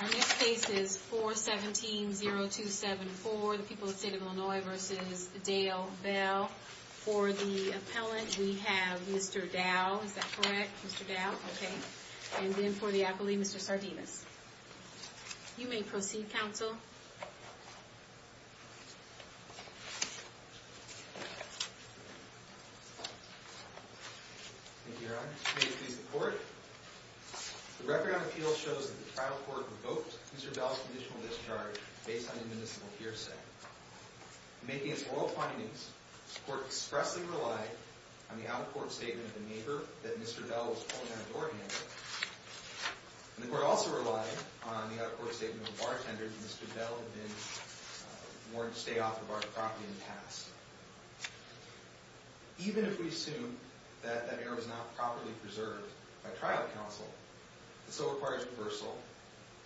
Our next case is 417-0274. The people of the state of Illinois v. Dale Bell. For the appellant, we have Mr. Dow. Is that correct? Mr. Dow? Okay. And then for the appellee, Mr. Sardinas. You may proceed, counsel. Thank you, Your Honor. May I please report? The record on appeals shows that the trial court revoked Mr. Bell's conditional discharge based on a municipal hearsay. Making its oral findings, the court expressly relied on the out-of-court statement of the neighbor that Mr. Bell was pulling down a door handle. And the court also relied on the out-of-court statement of a bartender that Mr. Bell had been warned to stay off the bar's property in the past. Even if we assume that that error was not properly preserved by trial counsel, it still requires reversal,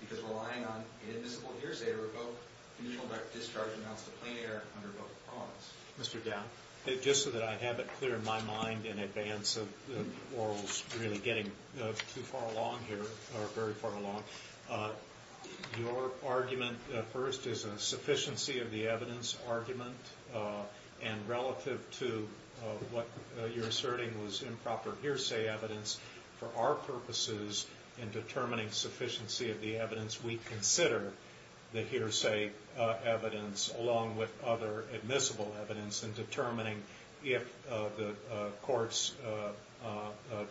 because relying on an admissible hearsay to revoke conditional discharge amounts to plain error under both opponents. Mr. Dow, just so that I have it clear in my mind in advance of the orals really getting too far along here, or very far along, your argument first is a sufficiency of the evidence argument, and relative to what you're asserting was improper hearsay evidence, for our purposes in determining sufficiency of the evidence, we consider the hearsay evidence along with other admissible evidence in determining if the court's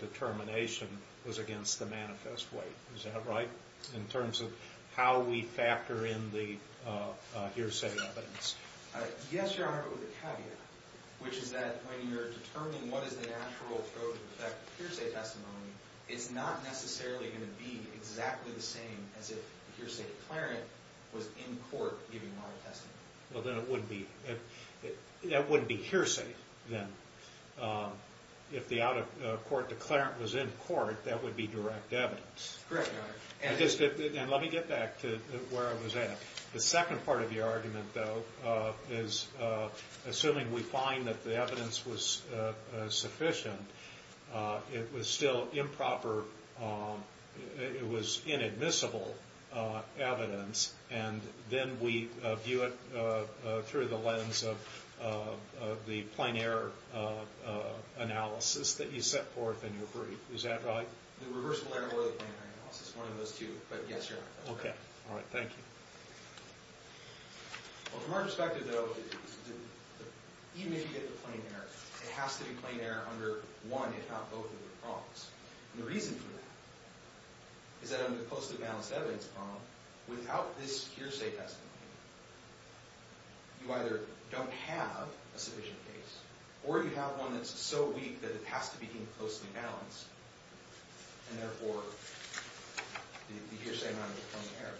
determination was against the manifest weight. Is that right, in terms of how we factor in the hearsay evidence? Yes, Your Honor, but with a caveat, which is that when you're determining what is the natural approach with respect to hearsay testimony, it's not necessarily going to be exactly the same as if the hearsay declarant was in court giving oral testimony. Well, then it wouldn't be hearsay, then. If the out-of-court declarant was in court, that would be direct evidence. Correct, Your Honor. And let me get back to where I was at. The second part of your argument, though, is assuming we find that the evidence was sufficient, it was still improper, it was inadmissible evidence, and then we view it through the lens of the plain error analysis that you set forth in your brief. Is that right? The reversible error or the plain error analysis, one of those two, but yes, Your Honor. Okay. All right. Thank you. Well, from our perspective, though, even if you get the plain error, it has to be plain error under one, if not both, of the prongs. And the reason for that is that under the closely balanced evidence prong, without this hearsay testimony, you either don't have a sufficient case or you have one that's so weak that it has to be closely balanced, and therefore the hearsay amount is a plain error.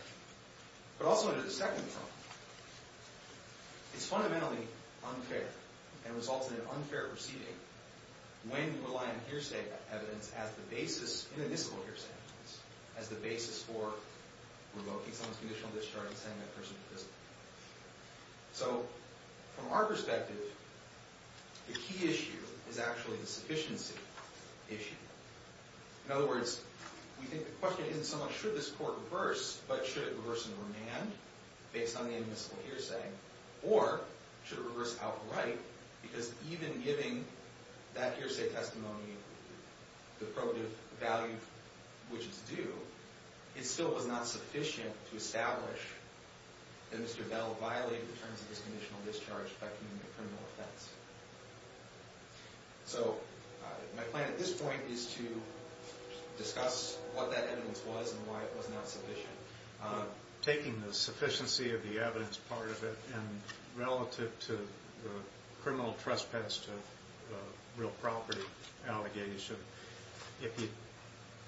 But also under the second prong, it's fundamentally unfair and results in an unfair proceeding when you rely on hearsay evidence as the basis, inadmissible hearsay evidence, as the basis for revoking someone's conditional discharge and sending that person to prison. So from our perspective, the key issue is actually the sufficiency issue. In other words, we think the question isn't so much should this court reverse, but should it reverse in remand based on the inadmissible hearsay, or should it reverse outright because even giving that hearsay testimony the probative value which is due, it still was not sufficient to establish that Mr. Bell violated the terms of his conditional discharge by committing a criminal offense. So my plan at this point is to discuss what that evidence was and why it was not sufficient. So taking the sufficiency of the evidence part of it and relative to the criminal trespass to real property allegation, if you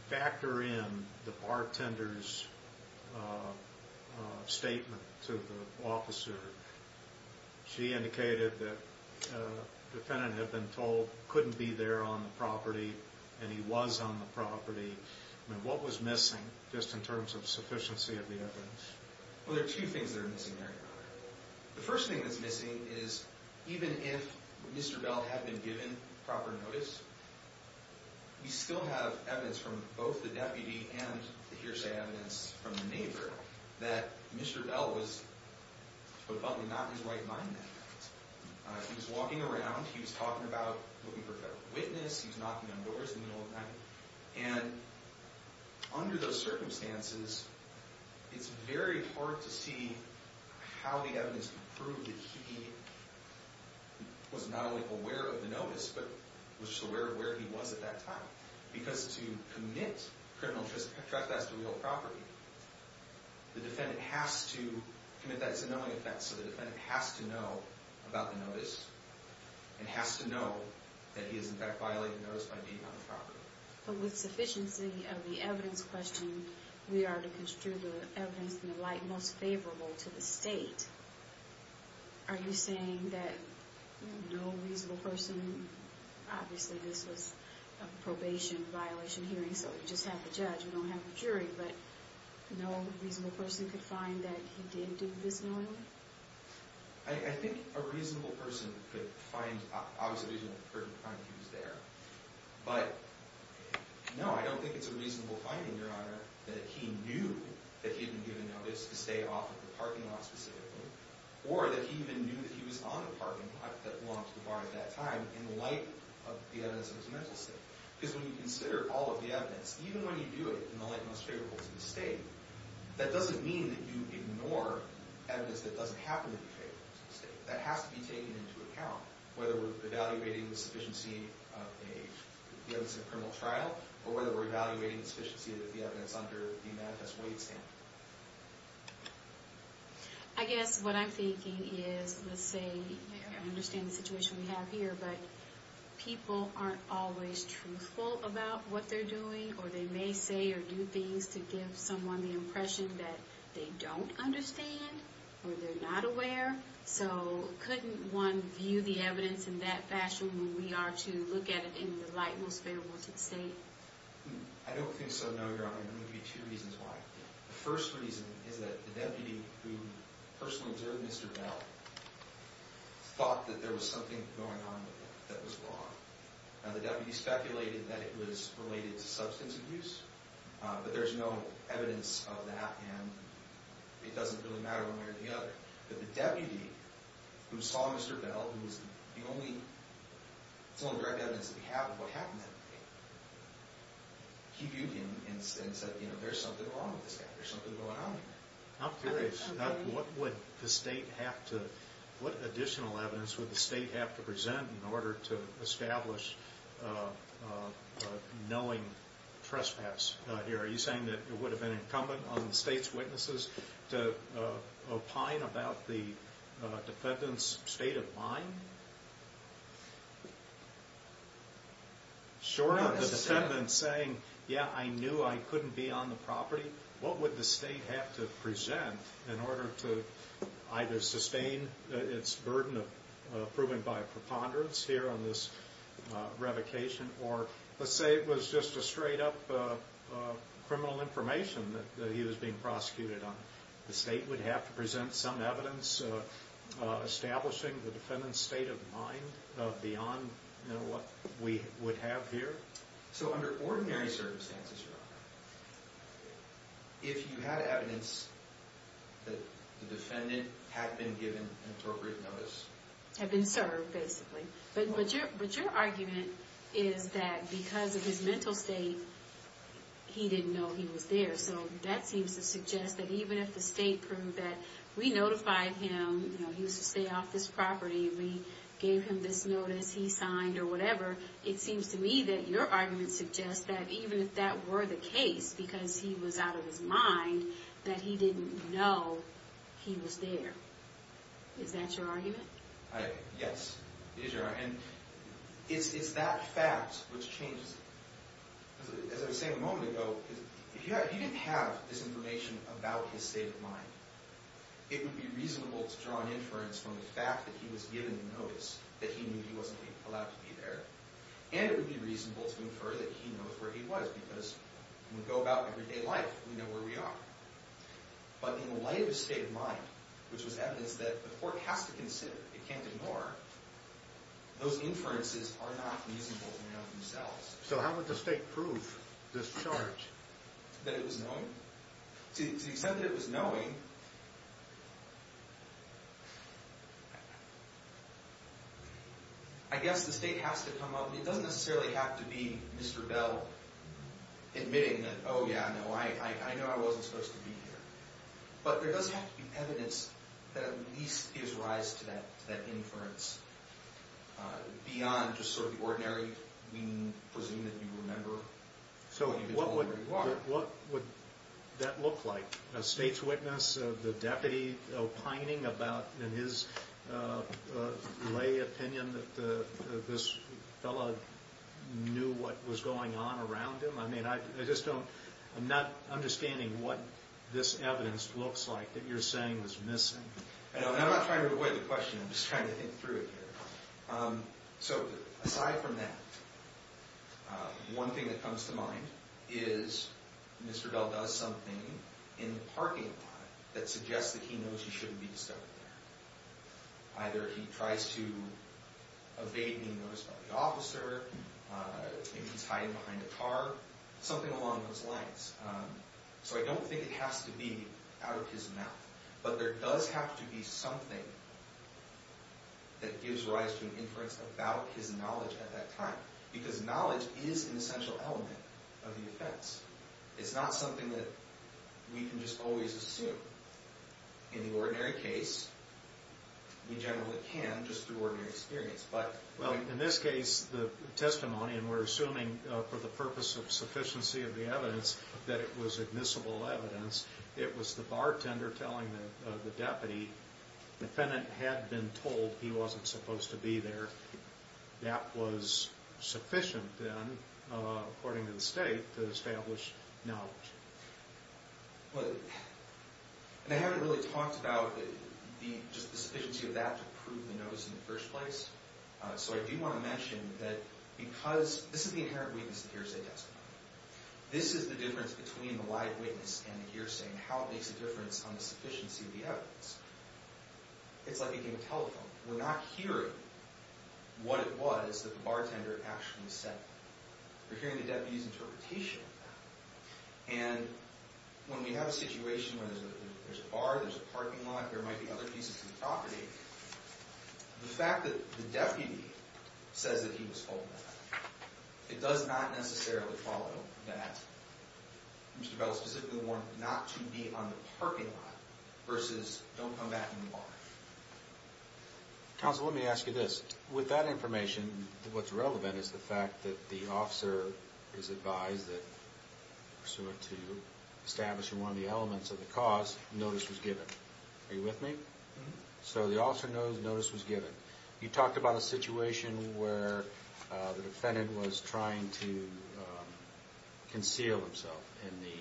factor in the bartender's statement to the officer, she indicated that the defendant had been told couldn't be there on the property and he was on the property. What was missing just in terms of sufficiency of the evidence? Well, there are two things that are missing there. The first thing that's missing is even if Mr. Bell had been given proper notice, we still have evidence from both the deputy and the hearsay evidence from the neighbor that Mr. Bell was probably not in his right mind then. He was walking around. He was talking about looking for a federal witness. He was knocking on doors in the middle of the night. And under those circumstances, it's very hard to see how the evidence could prove that he was not only aware of the notice but was just aware of where he was at that time. Because to commit criminal trespass to real property, the defendant has to commit that. It's a knowing offense, so the defendant has to know about the notice and has to know that he is in fact violating the notice by being on the property. But with sufficiency of the evidence question, we are to construe the evidence in the light most favorable to the state. Are you saying that no reasonable person, obviously this was a probation violation hearing so we just have the judge, we don't have the jury, but no reasonable person could find that he did do this knowingly? I think a reasonable person could find, obviously it didn't occur to him that he was there. But no, I don't think it's a reasonable finding, Your Honor, that he knew that he had been given notice to stay off at the parking lot specifically or that he even knew that he was on the parking lot that belonged to the bar at that time in light of the evidence of his mental state. Because when you consider all of the evidence, even when you do it in the light most favorable to the state, that doesn't mean that you ignore evidence that doesn't happen to be favorable to the state. That has to be taken into account, whether we're evaluating the sufficiency of the evidence in a criminal trial or whether we're evaluating the sufficiency of the evidence under the manifest way standard. I guess what I'm thinking is, let's say, I understand the situation we have here, but people aren't always truthful about what they're doing or they may say or do things to give someone the impression that they don't understand or they're not aware. So couldn't one view the evidence in that fashion when we are to look at it in the light most favorable to the state? I don't think so, no, Your Honor. There may be two reasons why. The first reason is that the deputy who personally observed Mr. Bell thought that there was something going on with him that was wrong. The deputy speculated that it was related to substance abuse, but there's no evidence of that and it doesn't really matter one way or the other. But the deputy who saw Mr. Bell, who was the only direct evidence that we have of what happened that day, he viewed him and said, you know, there's something wrong with this guy, there's something going on. I'm curious, what would the state have to, what additional evidence would the state have to present in order to establish knowing trespass here? Are you saying that it would have been incumbent on the state's witnesses to opine about the defendant's state of mind? Short of the defendant saying, yeah, I knew I couldn't be on the property, what would the state have to present in order to either sustain its burden of proving by a preponderance here on this revocation, or let's say it was just a straight up criminal information that he was being prosecuted on. The state would have to present some evidence establishing the defendant's state of mind beyond what we would have here? So under ordinary circumstances, Your Honor, if you had evidence that the defendant had been given an appropriate notice? Had been served, basically. But your argument is that because of his mental state, he didn't know he was there. So that seems to suggest that even if the state proved that we notified him, you know, he was to stay off this property, we gave him this notice he signed or whatever, it seems to me that your argument suggests that even if that were the case, because he was out of his mind, that he didn't know he was there. Is that your argument? Yes, it is your argument. It's that fact which changes it. As I was saying a moment ago, if he didn't have this information about his state of mind, it would be reasonable to draw an inference from the fact that he was given the notice, that he knew he wasn't allowed to be there. And it would be reasonable to infer that he knows where he was because when we go about everyday life, we know where we are. But in light of his state of mind, which was evidence that the court has to consider, it can't ignore, those inferences are not reasonable in and of themselves. So how would the state prove this charge? That it was knowing? To the extent that it was knowing, I guess the state has to come up with, it doesn't necessarily have to be Mr. Bell admitting that, oh yeah, no, I know I wasn't supposed to be here. But there does have to be evidence that at least gives rise to that inference beyond just sort of the ordinary, we presume that you remember. So what would that look like? A state's witness, the deputy opining about his lay opinion that this fellow knew what was going on around him? I mean, I just don't, I'm not understanding what this evidence looks like that you're saying was missing. I'm not trying to avoid the question, I'm just trying to think through it here. So aside from that, one thing that comes to mind is Mr. Bell does something in the parking lot that suggests that he knows he shouldn't be discovered there. Either he tries to evade being noticed by the officer, maybe he's hiding behind a car, something along those lines. So I don't think it has to be out of his mouth. But there does have to be something that gives rise to an inference about his knowledge at that time. Because knowledge is an essential element of the defense. It's not something that we can just always assume. In the ordinary case, we generally can just through ordinary experience. Well, in this case, the testimony, and we're assuming for the purpose of sufficiency of the evidence that it was admissible evidence, it was the bartender telling the deputy the defendant had been told he wasn't supposed to be there. That was sufficient then, according to the state, to establish knowledge. I haven't really talked about the sufficiency of that to prove the notice in the first place. So I do want to mention that because this is the inherent weakness of hearsay testimony. This is the difference between the live witness and the hearsay and how it makes a difference on the sufficiency of the evidence. It's like a game of telephone. We're not hearing what it was that the bartender actually said. We're hearing the deputy's interpretation of that. And when we have a situation where there's a bar, there's a parking lot, there might be other pieces of property, the fact that the deputy says that he was told that, it does not necessarily follow that Mr. Bell specifically warned not to be on the parking lot versus don't come back in the bar. Counsel, let me ask you this. With that information, what's relevant is the fact that the officer is advised that pursuant to establishing one of the elements of the cause, notice was given. Are you with me? So the officer knows notice was given. You talked about a situation where the defendant was trying to conceal himself in the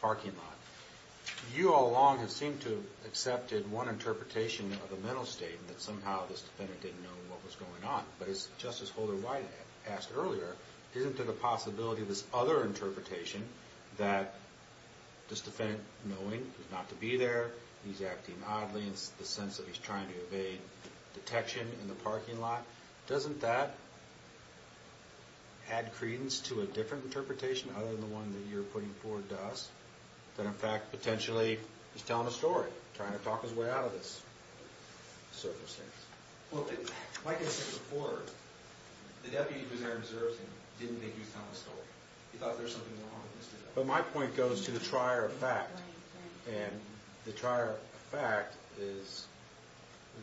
parking lot. You all along have seemed to have accepted one interpretation of the mental state that somehow this defendant didn't know what was going on. But as Justice Holder White asked earlier, isn't there the possibility of this other interpretation that this defendant, knowing he's not to be there, he's acting oddly in the sense that he's trying to evade detection in the parking lot, doesn't that add credence to a different interpretation other than the one that you're putting forward to us that in fact potentially he's telling a story, trying to talk his way out of this circumstance? Well, like I said before, the deputy who's there observing didn't think he was telling a story. He thought there was something wrong with Mr. Bell. But my point goes to the trier of fact. And the trier of fact is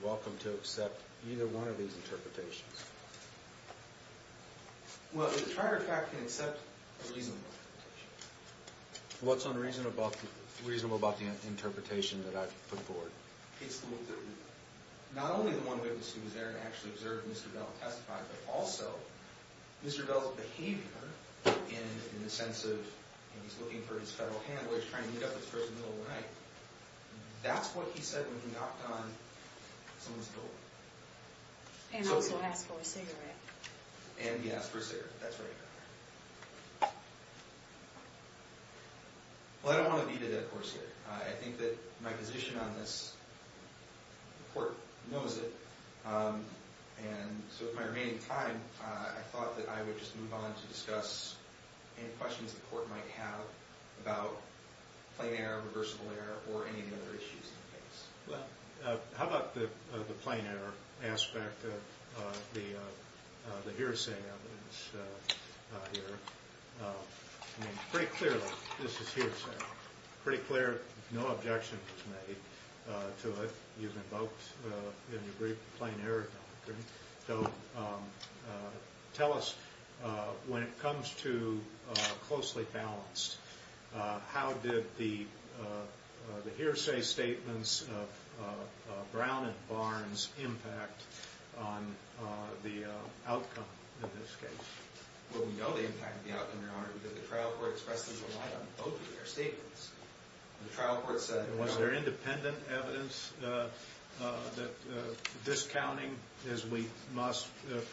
welcome to accept either one of these interpretations. Well, the trier of fact can accept a reasonable interpretation. What's unreasonable about the interpretation that I've put forward? It's not only the one witness who was there and actually observed Mr. Bell testify, but also Mr. Bell's behavior in the sense of he's looking for his federal hand while he's trying to meet up with this person in the middle of the night. That's what he said when he knocked on someone's door. And also asked for a cigarette. And he asked for a cigarette. That's right. Well, I don't want to be the dead horse here. I think that my position on this, the court knows it. And so with my remaining time, I thought that I would just move on to discuss any questions the court might have about plain error, reversible error, or any other issues in the case. Well, how about the plain error aspect of the hearsay evidence here? I mean, pretty clearly, this is hearsay. Pretty clear, no objection was made to it. You've invoked in your brief plain error doctrine. So tell us, when it comes to closely balanced, how did the hearsay statements of Brown and Barnes impact on the outcome in this case? Well, we know the impact of the outcome, Your Honor, because the trial court expressed them in light on both of their statements. The trial court said... For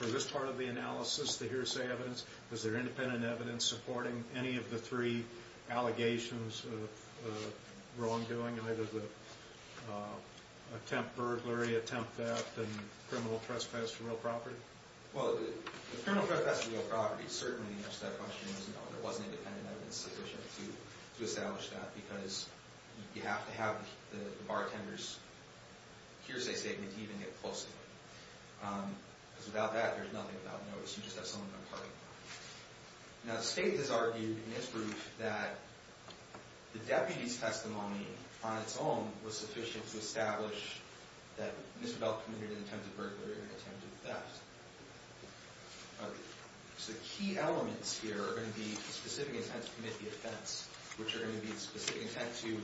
this part of the analysis, the hearsay evidence, was there independent evidence supporting any of the three allegations of wrongdoing, either the attempt burglary, attempt theft, and criminal trespass to real property? Well, the criminal trespass to real property certainly answered that question. There wasn't independent evidence sufficient to establish that because you have to have the bartender's hearsay statement to even get close to it. Because without that, there's nothing about notice. You just have someone imparting it. Now, the state has argued in its brief that the deputy's testimony on its own was sufficient to establish that Mr. Belk committed an attempt at burglary or an attempt at theft. So the key elements here are going to be the specific intent to commit the offense, which are going to be the specific intent to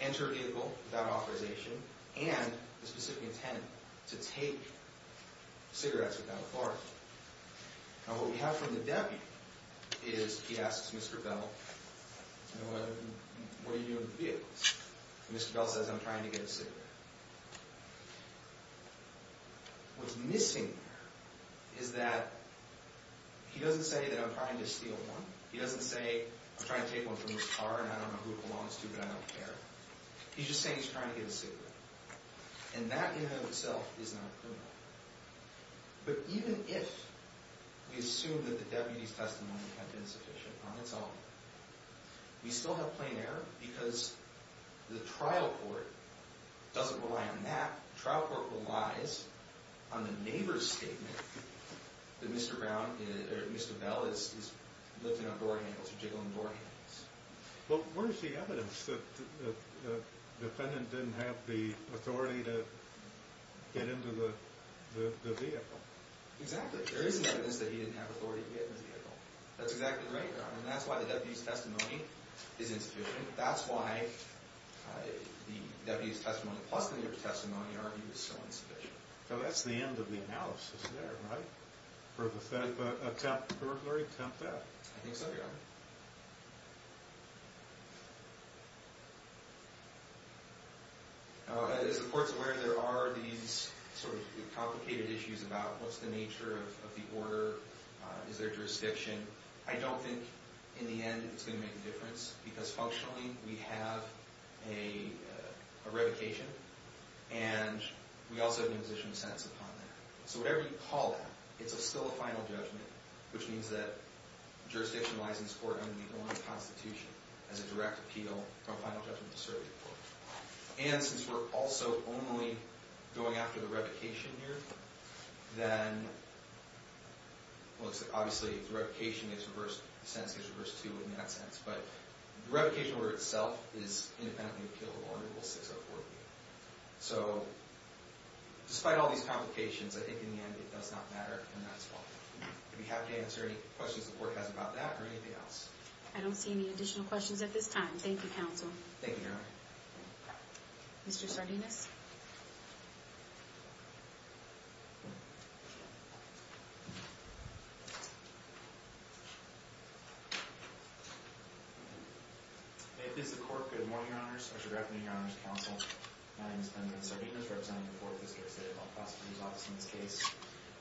enter a vehicle without authorization, and the specific intent to take cigarettes without authority. Now, what we have from the deputy is he asks Mr. Belk, you know, what are you doing with the vehicles? And Mr. Belk says, I'm trying to get a cigarette. What's missing here is that he doesn't say that I'm trying to steal one. He doesn't say, I'm trying to take one from this car and I don't know who it belongs to, but I don't care. He's just saying he's trying to get a cigarette. And that in and of itself is not criminal. But even if we assume that the deputy's testimony had been sufficient on its own, we still have plain error because the trial court doesn't rely on that. The trial court relies on the neighbor's statement that Mr. Belk is lifting up door handles or jiggling door handles. Well, where's the evidence that the defendant didn't have the authority to get into the vehicle? Exactly. There isn't evidence that he didn't have authority to get in the vehicle. That's exactly right, Your Honor. And that's why the deputy's testimony is insufficient. That's why the deputy's testimony plus the neighbor's testimony argued is so insufficient. So that's the end of the analysis there, right? For the attempted burglary attempt at. I think so, Your Honor. Thank you, Your Honor. As the court's aware, there are these complicated issues about what's the nature of the order? Is there jurisdiction? I don't think in the end it's going to make a difference because functionally we have a revocation. And we also have an imposition of sentence upon that. So whatever you call that, it's still a final judgment, which means that jurisdictionalizing this court under the New England Constitution has a direct appeal from a final judgment to serve your court. And since we're also only going after the revocation here, then obviously the revocation is reversed. The sentence gets reversed too in that sense. But the revocation order itself is independently appealed under Rule 604B. So despite all these complications, I think in the end it does not matter. Do we have to answer any questions the court has about that or anything else? I don't see any additional questions at this time. Thank you, Counsel. Thank you, Your Honor. Mr. Sardinus? Hey, this is the court. Good morning, Your Honors. Or good afternoon, Your Honors, Counsel. My name is Benjamin Sardinus, representing the Fourth District State Law Prosecutor's Office in this case.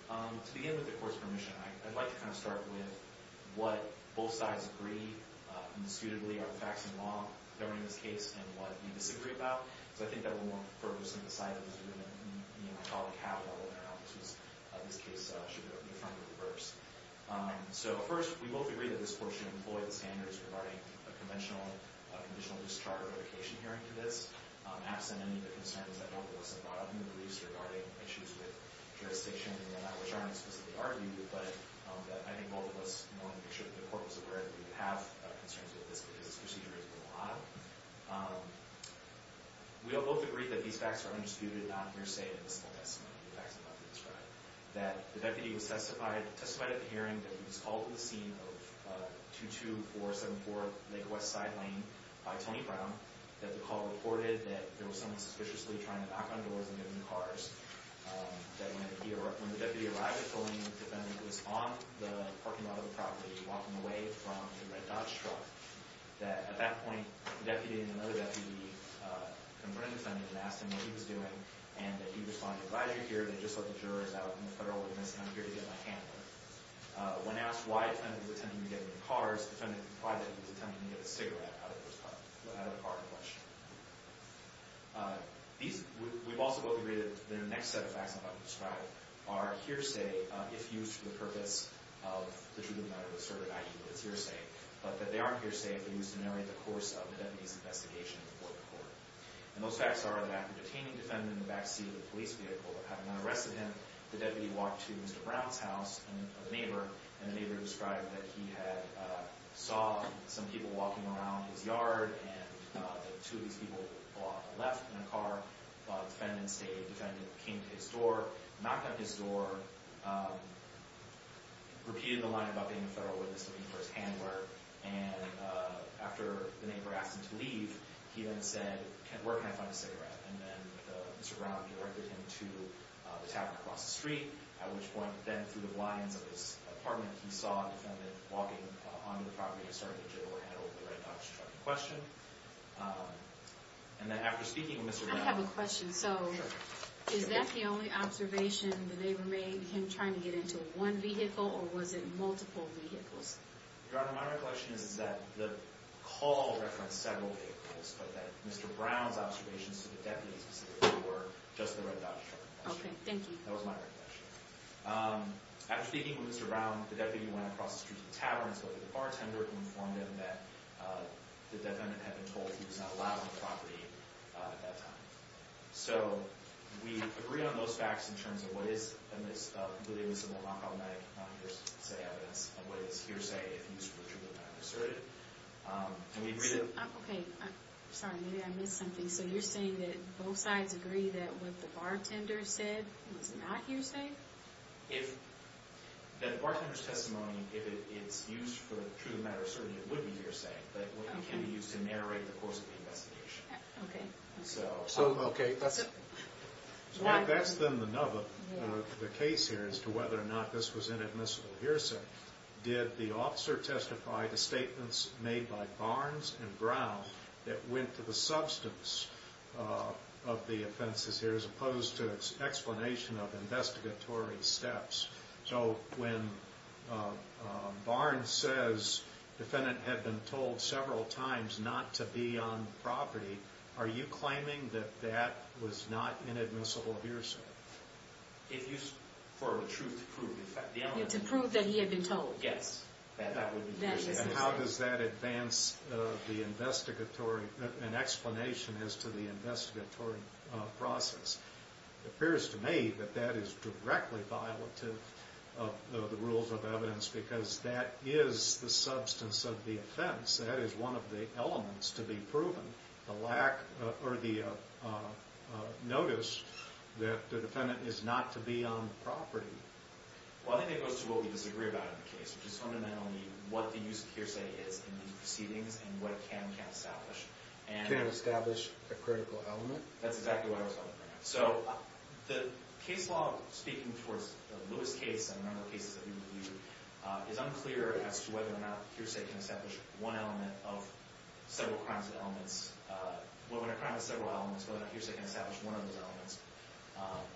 To begin with the court's permission, I'd like to kind of start with what both sides agree indisputably are the facts and law governing this case and what we disagree about. So I think that we'll want to focus on the side that is really the economic have-all and how this case should be reaffirmed or reversed. So first, we both agree that this court should employ the standards regarding a conventional and conditional discharge or revocation hearing to this, absent any of the concerns that both courts have brought up in the briefs regarding issues with jurisdiction and whatnot, which I haven't specifically argued, but I think both of us wanted to make sure that the court was aware that we have concerns with this because this procedure is a lot. We both agree that these facts are undisputed, not mere say in the small testimony of the facts I'm about to describe, that the deputy was testified at the hearing that he was called to the scene of 22474 Lake West Side Lane by Tony Brown, that the call reported that there was someone suspiciously trying to knock on doors and get into cars, that when the deputy arrived at the lane, the defendant was on the parking lot of the property walking away from the red Dodge truck, that at that point, the deputy and another deputy confronted the defendant and asked him what he was doing, and that he responded, but as you hear, they just let the jurors out and the federal organist come here to get my hand. When asked why the defendant was attempting to get into cars, the defendant replied that he was attempting to get a cigarette out of the car and push. We've also both agreed that the next set of facts I'm about to describe are hearsay, if used for the purpose of the truth of the matter, asserted, i.e., that it's hearsay, but that they aren't hearsay if they're used to narrate the course of the deputy's investigation before the court. And those facts are that after detaining the defendant in the backseat of the police vehicle, having unarrested him, the deputy walked to Mr. Brown's house, a neighbor, and the neighbor described that he had saw some people walking around his yard and that two of these people had left in a car. The defendant came to his door, knocked on his door, repeated the line about being a federal witness looking for his hand wear, and after the neighbor asked him to leave, he then said, where can I find a cigarette? And then Mr. Brown directed him to the tavern across the street, at which point, then through the blinds of his apartment, he saw a defendant walking onto the property with a red Dodge truck in question. And then after speaking with Mr. Brown... I have a question. So is that the only observation the neighbor made, him trying to get into one vehicle, or was it multiple vehicles? Your Honor, my recollection is that the call referenced several vehicles, but that Mr. Brown's observations to the deputy specifically were just the red Dodge truck in question. Okay, thank you. That was my recollection. After speaking with Mr. Brown, the deputy went across the street to the tavern and spoke with the bartender and informed him that the defendant had been told he was not allowed on the property at that time. So we agree on those facts in terms of what is a completely elusive or non-problematic hearsay evidence of what is hearsay if he was virtually unasserted. And we agree that... Okay, sorry, maybe I missed something. So you're saying that both sides agree that what the bartender said was not hearsay? If the bartender's testimony, if it's used for a true matter, certainly it would be hearsay, but it wouldn't be used to narrate the course of the investigation. Okay. So, okay, that's it. So that's then the nub of the case here as to whether or not this was inadmissible hearsay. Did the officer testify to statements made by Barnes and Brown that went to the substance of the offenses here as opposed to explanation of investigatory steps? So when Barnes says the defendant had been told several times not to be on the property, are you claiming that that was not inadmissible hearsay? If used for truth to prove. To prove that he had been told. Yes. And how does that advance the investigatory... an explanation as to the investigatory process? It appears to me that that is directly violative of the rules of evidence because that is the substance of the offense. That is one of the elements to be proven. The lack or the notice that the defendant is not to be on the property. Well, I think it goes to what we disagree about in the case, which is fundamentally what the use of hearsay is in the proceedings and what it can and can't establish. Can't establish a critical element? That's exactly what I was talking about. So the case law speaking towards the Lewis case and a number of cases that we reviewed is unclear as to whether or not hearsay can establish one element of several crimes and elements... Well, when a crime has several elements, whether or not hearsay can establish one of those elements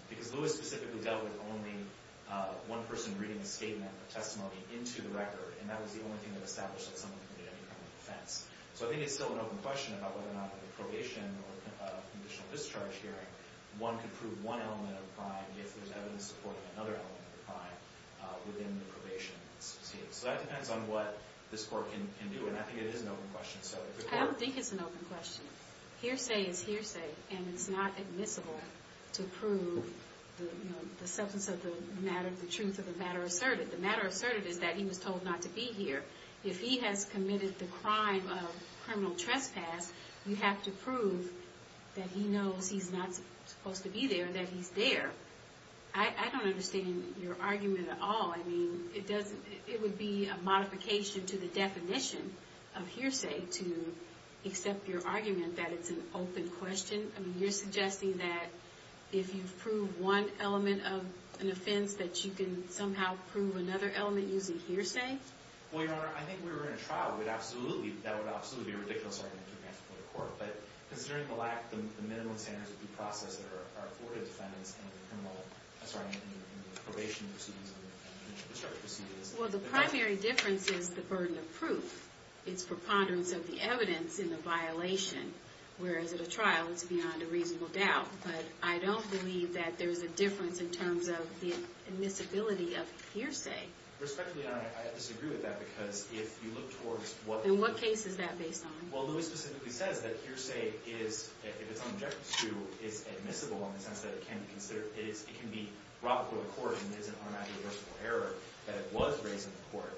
because Lewis specifically dealt with only one person reading a statement of testimony into the record and that was the only thing that established that someone committed any kind of offense. So I think it's still an open question about whether or not the probation or conditional discharge hearing, one could prove one element of the crime if there's evidence supporting another element of the crime within the probation. So that depends on what this court can do and I think it is an open question. I don't think it's an open question. Hearsay is hearsay and it's not admissible to prove the substance of the matter, the truth of the matter asserted. The matter asserted is that he was told not to be here. If he has committed the crime of criminal trespass, you have to prove that he knows he's not supposed to be there, that he's there. I don't understand your argument at all. I mean, it would be a modification to the definition of hearsay to accept your argument that it's an open question. I mean, you're suggesting that if you prove one element of an offense that you can somehow prove another element using hearsay? Well, Your Honor, I think we were in a trial. That would absolutely be a ridiculous argument to advance it before the court. But considering the lack of the minimum standards of due process that are afforded defendants in the probation proceedings and the district court proceedings... Well, the primary difference is the burden of proof. It's preponderance of the evidence in the violation, whereas at a trial it's beyond a reasonable doubt. But I don't believe that there's a difference in terms of the admissibility of hearsay. Respectfully, Your Honor, I disagree with that, because if you look towards what... In what case is that based on? Well, Lewis specifically says that hearsay is, if it's unobjective to, is admissible in the sense that it can be brought before the court and it isn't automatically reversible error that it was raised in the court.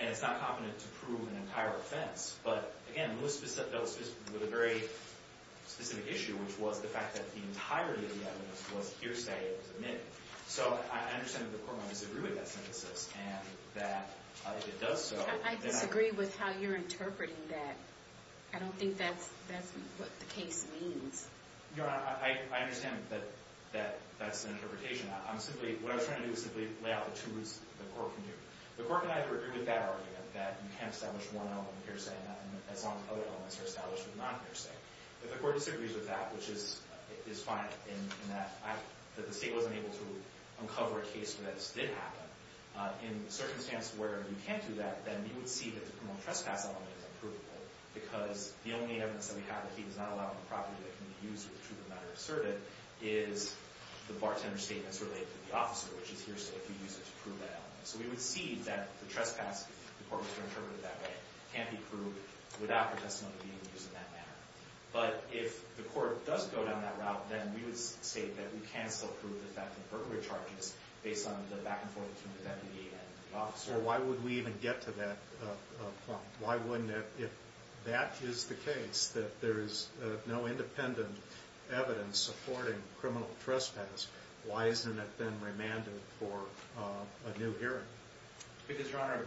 And it's not competent to prove an entire offense. But again, Lewis dealt with a very specific issue, which was the fact that the entirety of the evidence was hearsay that was admitted. So I understand that the court might disagree with that synthesis and that if it does so... I disagree with how you're interpreting that. I don't think that's what the case means. Your Honor, I understand that that's an interpretation. I'm simply... What I was trying to do is simply lay out the two routes the court can do. The court and I agree with that argument that you can't establish one element of hearsay as long as other elements are established with non-hearsay. But the court disagrees with that, which is fine in that the state wasn't able to uncover a case where that just did happen. In circumstances where you can't do that, then we would see that the criminal trespass element is unprovable because the only evidence that we have that he does not allow him property that can be used with the truth of the matter asserted is the bartender's statements related to the officer, which is hearsay if you use it to prove that element. So we would see that the trespass, if the court was to interpret it that way, can't be proved without the testimony being used in that manner. But if the court does go down that route, then we would state that we can still prove the fact that Burton recharged us based on the back and forth between the deputy and the officer. So why would we even get to that point? Why wouldn't it? If that is the case, that there is no independent evidence supporting criminal trespass, why isn't it then remanded for a new hearing? Because, Your Honor,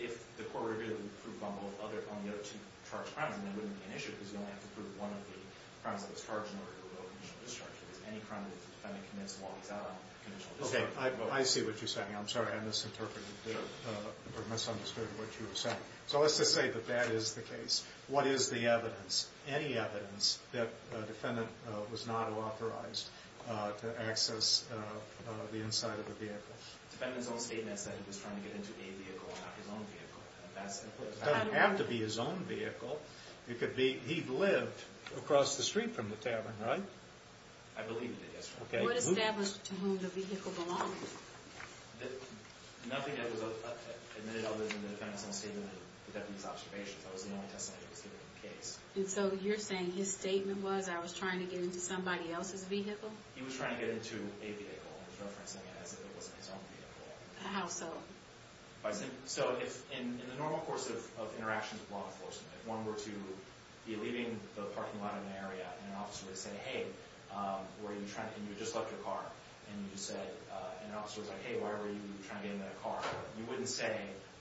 if the court were to prove on the other two charged crimes, then that wouldn't be an issue because you only have to prove one of the crimes that was charged in order to rule a conditional discharge. Because any crime that the defendant commits walks out on a conditional discharge. I see what you're saying. I'm sorry I misinterpreted or misunderstood what you were saying. So let's just say that that is the case. What is the evidence? Any evidence that a defendant was not authorized to access the inside of the vehicle? The defendant's own statement said he was trying to get into a vehicle, not his own vehicle. That's implicit. It doesn't have to be his own vehicle. He lived across the street from the tavern, right? I believe he did, yes, Your Honor. What established to whom the vehicle belonged? Nothing that was admitted other than the defendant's own statement and the defendant's observations. That was the only testimony that was given in the case. And so you're saying his statement was I was trying to get into somebody else's vehicle? He was trying to get into a vehicle and was referencing it as if it wasn't his own vehicle. How so? So if in the normal course of interactions with law enforcement, if one were to be leaving the parking lot in an area and an officer would say, hey, were you trying to... and you just left your car, and you said... and an officer was like, hey, why were you trying to get into that car? You wouldn't say,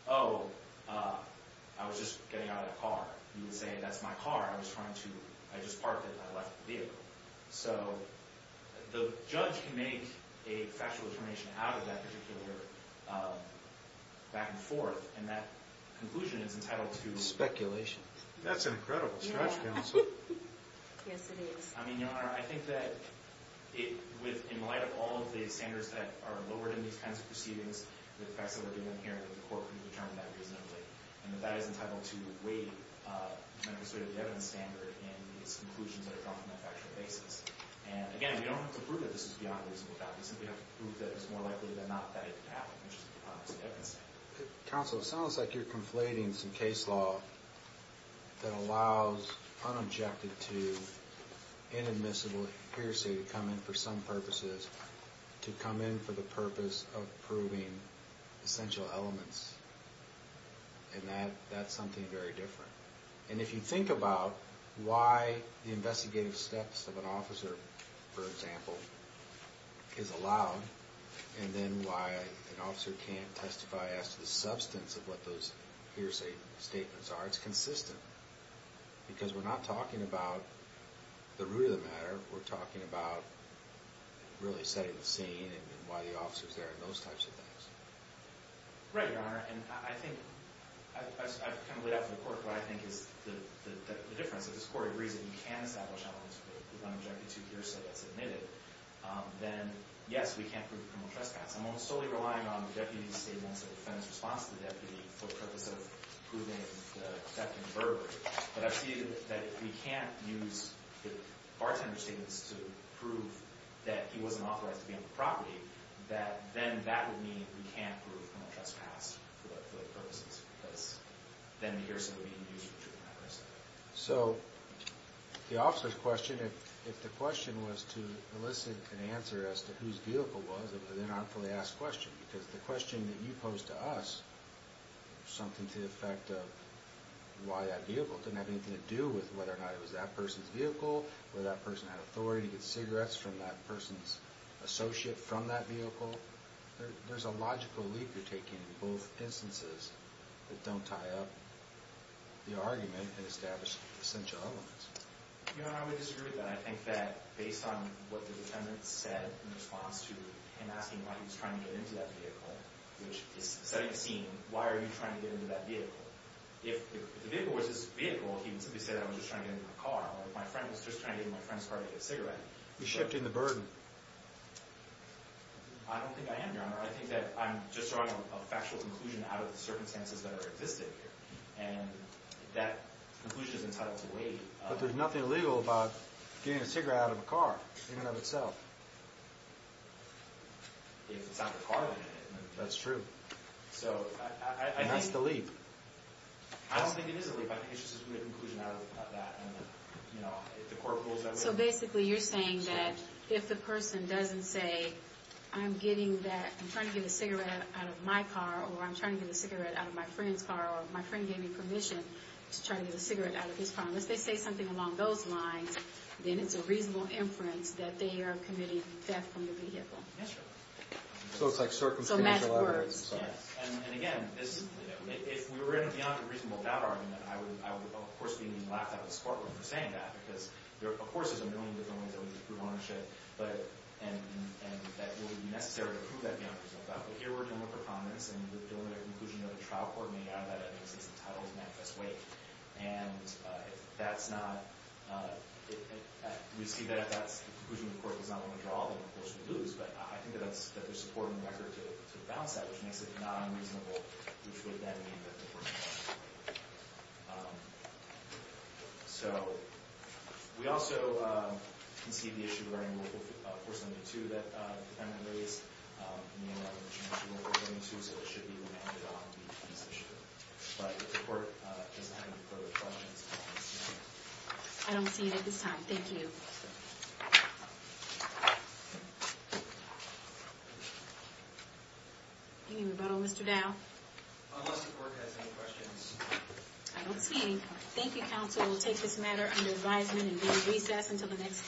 oh, I was just getting out of the car. You would say, that's my car. I was trying to... I just parked it and I left the vehicle. So the judge can make a factual determination out of that particular back and forth. And that conclusion is entitled to... Speculation. That's an incredible stretch, counsel. Yes, it is. I mean, Your Honor, I think that in light of all of the standards that are lowered in these kinds of proceedings, the facts that we're doing here, the court can determine that reasonably. And that that is entitled to weigh the demonstrated evidence standard and its conclusions that are drawn from that factual basis. And again, we don't have to prove that this is beyond reasonable doubt. We simply have to prove that it's more likely than not that it happened, which is a promise of evidence. Counsel, it sounds like you're conflating some case law that allows unobjected to inadmissible hearsay to come in for some purposes to come in for the purpose of proving essential elements. And that's something very different. And if you think about why the investigative steps of an officer, for example, is allowed, and then why an officer can't testify as to the substance of what those hearsay statements are, it's consistent. Because we're not talking about the root of the matter. We're talking about really setting the scene and why the officer's there and those types of things. Right, Your Honor. And I think... I've kind of laid out for the court what I think is the difference. If the court agrees that you can establish elements of unobjected to hearsay that's admitted, then, yes, we can't prove criminal trespass. I'm almost totally relying on the deputy's statements of defense response to the deputy for the purpose of proving the theft and burglary. But I've seen that if we can't use the bartender's statements to prove that he wasn't authorized to be on the property, that then that would mean we can't prove criminal trespass for those purposes because then the hearsay would be used, which wouldn't make much sense. So the officer's question, if the question was to elicit an answer as to whose vehicle it was, it would have been an unfully asked question because the question that you posed to us was something to the effect of why that vehicle. It didn't have anything to do with whether or not it was that person's vehicle, whether that person had authority to get cigarettes from that person's associate from that vehicle. There's a logical leap you're taking in both instances that don't tie up the argument and establish essential elements. Your Honor, I would disagree with that. I think that based on what the defendant said in response to him asking why he was trying to get into that vehicle, which is setting a scene. Why are you trying to get into that vehicle? If the vehicle was his vehicle, he would simply say that I was just trying to get into my car. My friend was just trying to get into my friend's car to get a cigarette. You're shifting the burden. I don't think I am, Your Honor. I think that I'm just drawing a factual conclusion out of the circumstances that are existing here. And that conclusion is entitled to wait. But there's nothing illegal about getting a cigarette out of a car, even of itself. If it's not the car that did it. That's true. So, I think... And that's the leap. I don't think it is a leap. I think it's just a conclusion out of that. And, you know, if the court rules that way... So, basically, you're saying that if the person doesn't say, I'm getting that... I'm trying to get a cigarette out of my car or I'm trying to get a cigarette out of my friend's car or my friend gave me permission to try to get a cigarette out of his car. Unless they say something along those lines, then it's a reasonable inference that they are committing theft from their vehicle. Yes, Your Honor. So, it's like circumstantial evidence. So, match words. Yes. And, again, this... You know, if we were in a beyond reasonable doubt argument, I would, of course, be laughed at and squirted with for saying that. Because, of course, there's a million different ways that we can prove ownership. But... And that it would be necessary to prove that beyond presumption. But here we're dealing with a promise. And we're dealing with a conclusion that a trial court made out of that evidence. It's entitled to manifest weight. And that's not... We see that if that's the conclusion the court does not want to draw, then, of course, we lose. But I think that there's support in the record to balance that, which makes it non-reasonable, which would then mean that the court would lose. So... We also concede the issue regarding Rule 472 that the defendant raised. And, you know, I mentioned Rule 472, so it should be remanded on in this issue. But the court doesn't have any further questions on this matter. I don't see it at this time. Thank you. Any rebuttal, Mr. Dow? Unless the court has any questions. I don't see any. Thank you, counsel. We'll take this matter under advisement and do a recess until the next case.